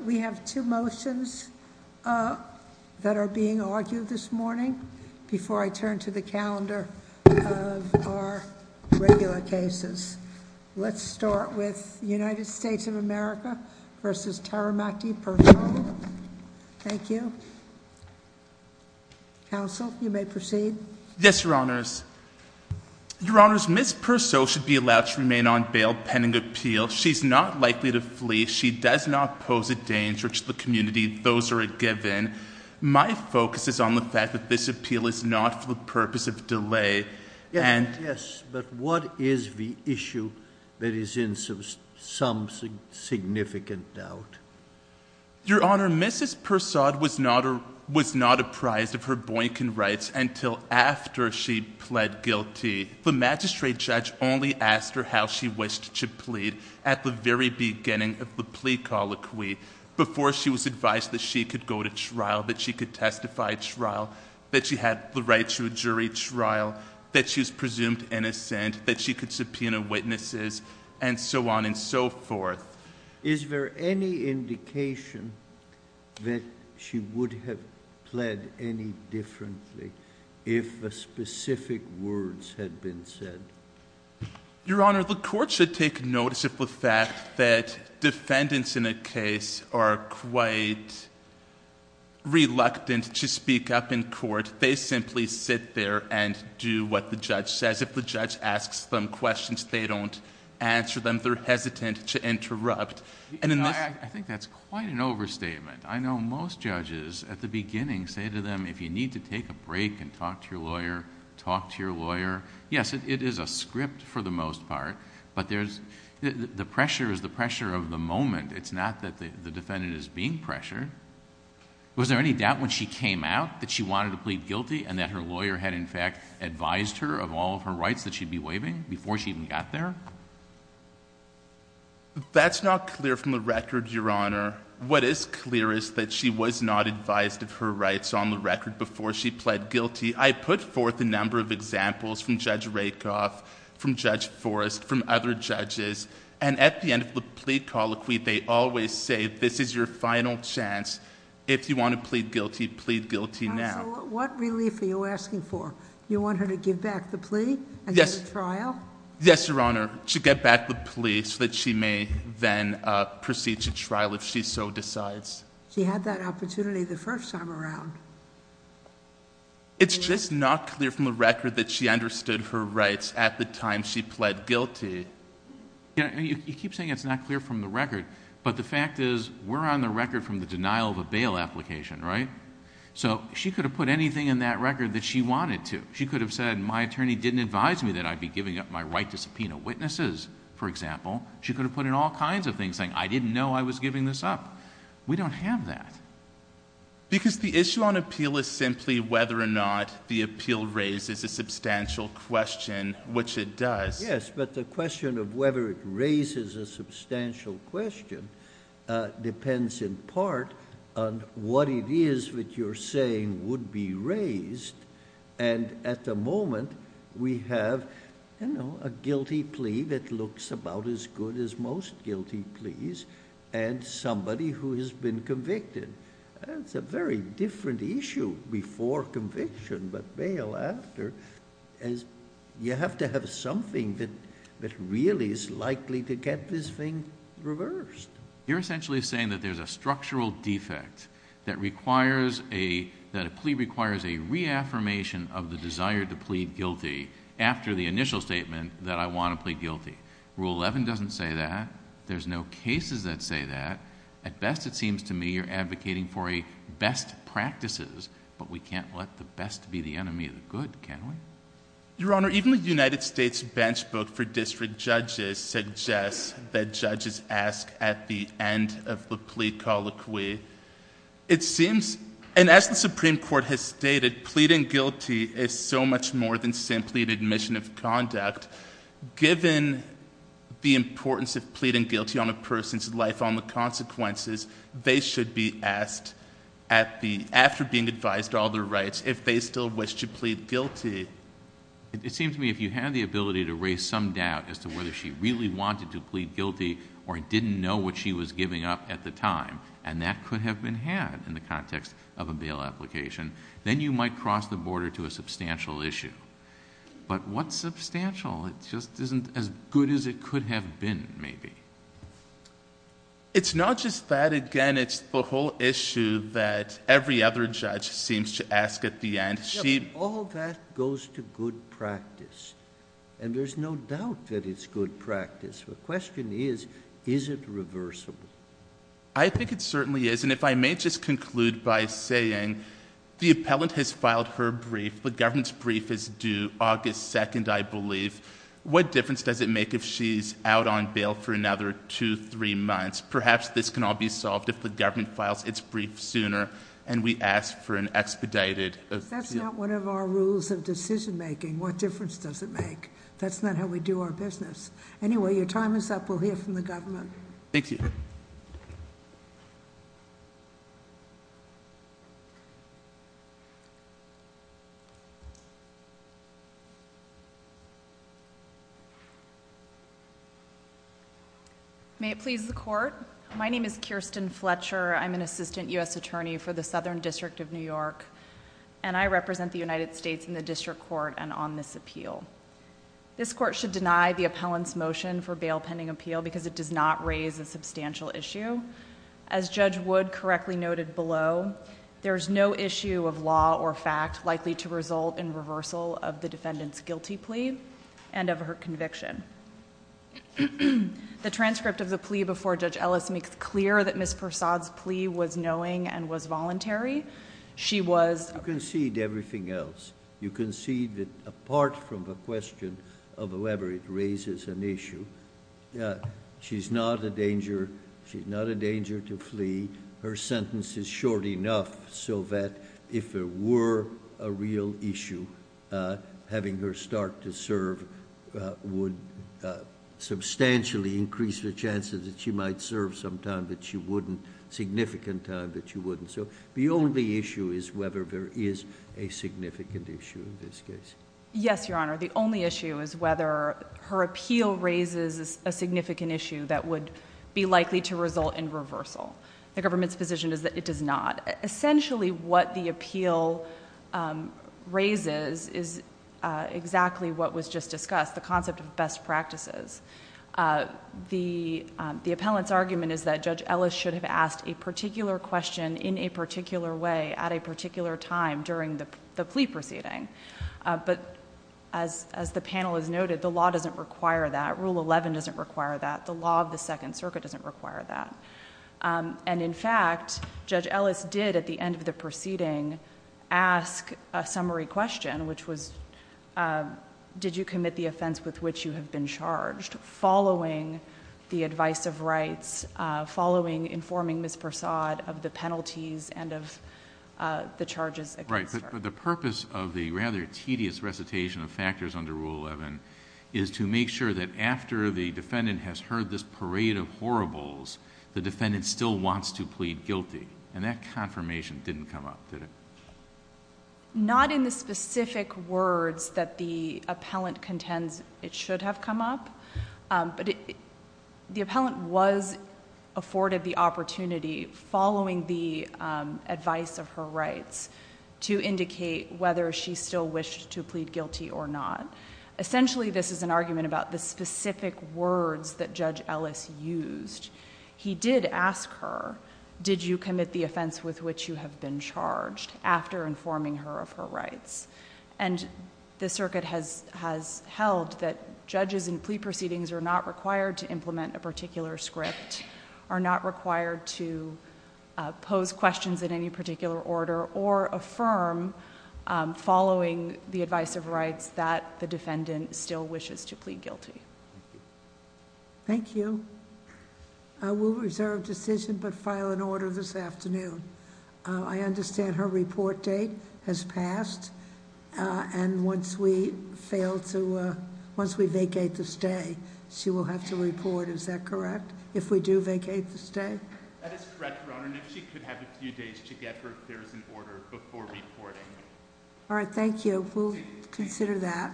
We have two motions that are being argued this morning. Before I turn to the calendar of our regular cases, let's start with United States of America v. Taramaki-Persaud. Thank you. Counsel, you may proceed. Yes, Your Honors. Your Honors, Ms. Persaud should be allowed to remain on bail pending appeal. She is not likely to flee. She does not pose a danger to the community. Those are a given. My focus is on the fact that this appeal is not for the purpose of delay and Yes, but what is the issue that is in some significant doubt? Your Honor, Ms. Persaud was not apprised of her Boykin rights until after she pled guilty. The magistrate judge only asked her how she wished to plead at the very beginning of the plea colloquy, before she was advised that she could go to trial, that she could testify at trial, that she had the right to a jury trial, that she was presumed innocent, that she could subpoena witnesses, and so on and so forth. Is there any indication that she would have pled any differently if the specific words had been said? Your Honor, the court should take notice of the fact that defendants in a case are quite reluctant to speak up in court. They simply sit there and do what the judge says. If the judge asks them questions, they don't answer them. They're hesitant to interrupt. I think that's quite an overstatement. I know most judges at the beginning say to them, if you need to take a break and talk to your lawyer, talk to your lawyer. Yes, it is a script for the most part, but the pressure is the pressure of the moment. It's not that the defendant is being pressured. Was there any doubt when she came out that she wanted to plead guilty and that her lawyer had in fact advised her of all of her rights that she'd be waiving before she even got there? That's not clear from the record, Your Honor. What is clear is that she was not advised of her rights on the record before she pled guilty. I put forth a number of examples from Judge Rakoff, from Judge Forrest, from other judges, and at the end of the plea colloquy, they always say, this is your final chance. If you want to plead guilty, plead guilty now. What relief are you asking for? Do you want her to give back the plea and go to trial? Yes, Your Honor. She'll get back the plea so that she may then proceed to trial if she so decides. She had that opportunity the first time around. It's just not clear from the record that she understood her rights at the time she pled guilty. You keep saying it's not clear from the record, but the fact is, we're on the record from the denial of a bail application, right? She could have put anything in that record that she wanted to. She could have said, my attorney didn't advise me that I'd be giving up my right to subpoena witnesses, for example. She could have put in all kinds of things saying, I didn't know I was giving this up. We don't have that. Because the issue on appeal is simply whether or not the appeal raises a substantial question, which it does. Yes, but the question of whether it raises a substantial question depends in part on what it is that you're saying would be raised. And at the moment, we have a guilty plea that looks about as good as most guilty pleas and somebody who has been convicted. It's a very different issue before conviction but bail after. You have to have something that really is likely to get this thing reversed. You're essentially saying that there's a structural defect that a plea requires a reaffirmation of the desire to plead guilty after the initial statement that I want to plead guilty. Rule 11 doesn't say that. There's no cases that say that. At best, it seems to me you're advocating for a best practices, but we can't let the best be the enemy of the good, can we? Your Honor, even the United States Bench Book for District Judges suggests that judges ask at the end of the plea colloquy. It seems, and as the Supreme Court has stated, pleading guilty is so much more than simply an admission of conduct. Given the importance of pleading guilty on a person's life on the consequences, they should be asked after being advised to all their rights if they still wish to plead guilty. It seems to me if you had the ability to raise some doubt as to whether she really wanted to plead guilty or didn't know what she was giving up at the time, and that could have been had in the context of a bail application, then you might cross the border to a substantial issue. But what substantial? It just isn't as good as it could have been, maybe. It's not just that. Again, it's the whole issue that every other judge seems to ask at the end. All that goes to good practice, and there's no doubt that it's good practice. The question is, is it reversible? I think it certainly is. If I may just conclude by saying the appellant has filed her brief. The government's brief is due August 2nd, I believe. What difference does it make if she's out on bail for another two, three months? Perhaps this can all be solved if the government files its brief sooner and we ask for an expedited- That's not one of our rules of decision making. What difference does it make? That's not how we do our business. Anyway, your time is up. We'll hear from the government. Thank you. May it please the court. My name is Kirsten Fletcher. I'm an assistant U.S. attorney for the Southern District of New York, and I represent the United States in the district court and on this appeal. This court should deny the appellant's motion for bail pending appeal because it does not raise a substantial issue. As Judge Wood correctly noted below, there is no issue of law or fact likely to result in reversal of the defendant's guilty plea and of her conviction. The transcript of the plea before Judge Ellis makes clear that Ms. Persaud's plea was knowing and was voluntary. She was- You concede everything else. You concede that apart from the question of whether it raises an issue, she's not a danger to flee. Her sentence is short enough so that if there were a real issue, having her start to serve would substantially increase the chances that she might serve some time that she wouldn't, significant time that she wouldn't. So the only issue is whether there is a significant issue in this case. Yes, Your Honor. The only issue is whether her appeal raises a significant issue that would be likely to result in reversal. The government's position is that it does not. Essentially what the appeal raises is exactly what was just discussed, the concept of best practices. The appellant's argument is that Judge Ellis should have asked a particular question in a particular way at a particular time during the plea proceeding. But as the panel has noted, the law doesn't require that. Rule 11 doesn't require that. The law of the Second Circuit doesn't require that. In fact, Judge Ellis did at the end of the proceeding ask a summary question, which was did you commit the offense with which you have been charged following the advice of rights, following informing Ms. Persaud of the penalties and of the charges against her. But the purpose of the rather tedious recitation of factors under Rule 11 is to make sure that after the defendant has heard this parade of horribles, the defendant still wants to plead guilty. And that confirmation didn't come up, did it? Not in the specific words that the appellant contends it should have come up, but the appellant was afforded the opportunity following the advice of her rights to indicate whether she still wished to plead guilty or not. Essentially, this is an argument about the specific words that Judge Ellis used. He did ask her, did you commit the offense with which you have been charged after informing her of her rights? And the circuit has held that judges in plea proceedings are not required to implement a particular script, are not required to pose questions in any particular order, or affirm following the advice of rights that the defendant still wishes to plead guilty. Thank you. I will reserve decision but file an order this afternoon. I understand her report date has passed. And once we vacate the stay, she will have to report, is that correct? If we do vacate the stay? That is correct, Your Honor. And if she could have a few days to get her affairs in order before reporting. All right, thank you. We'll consider that.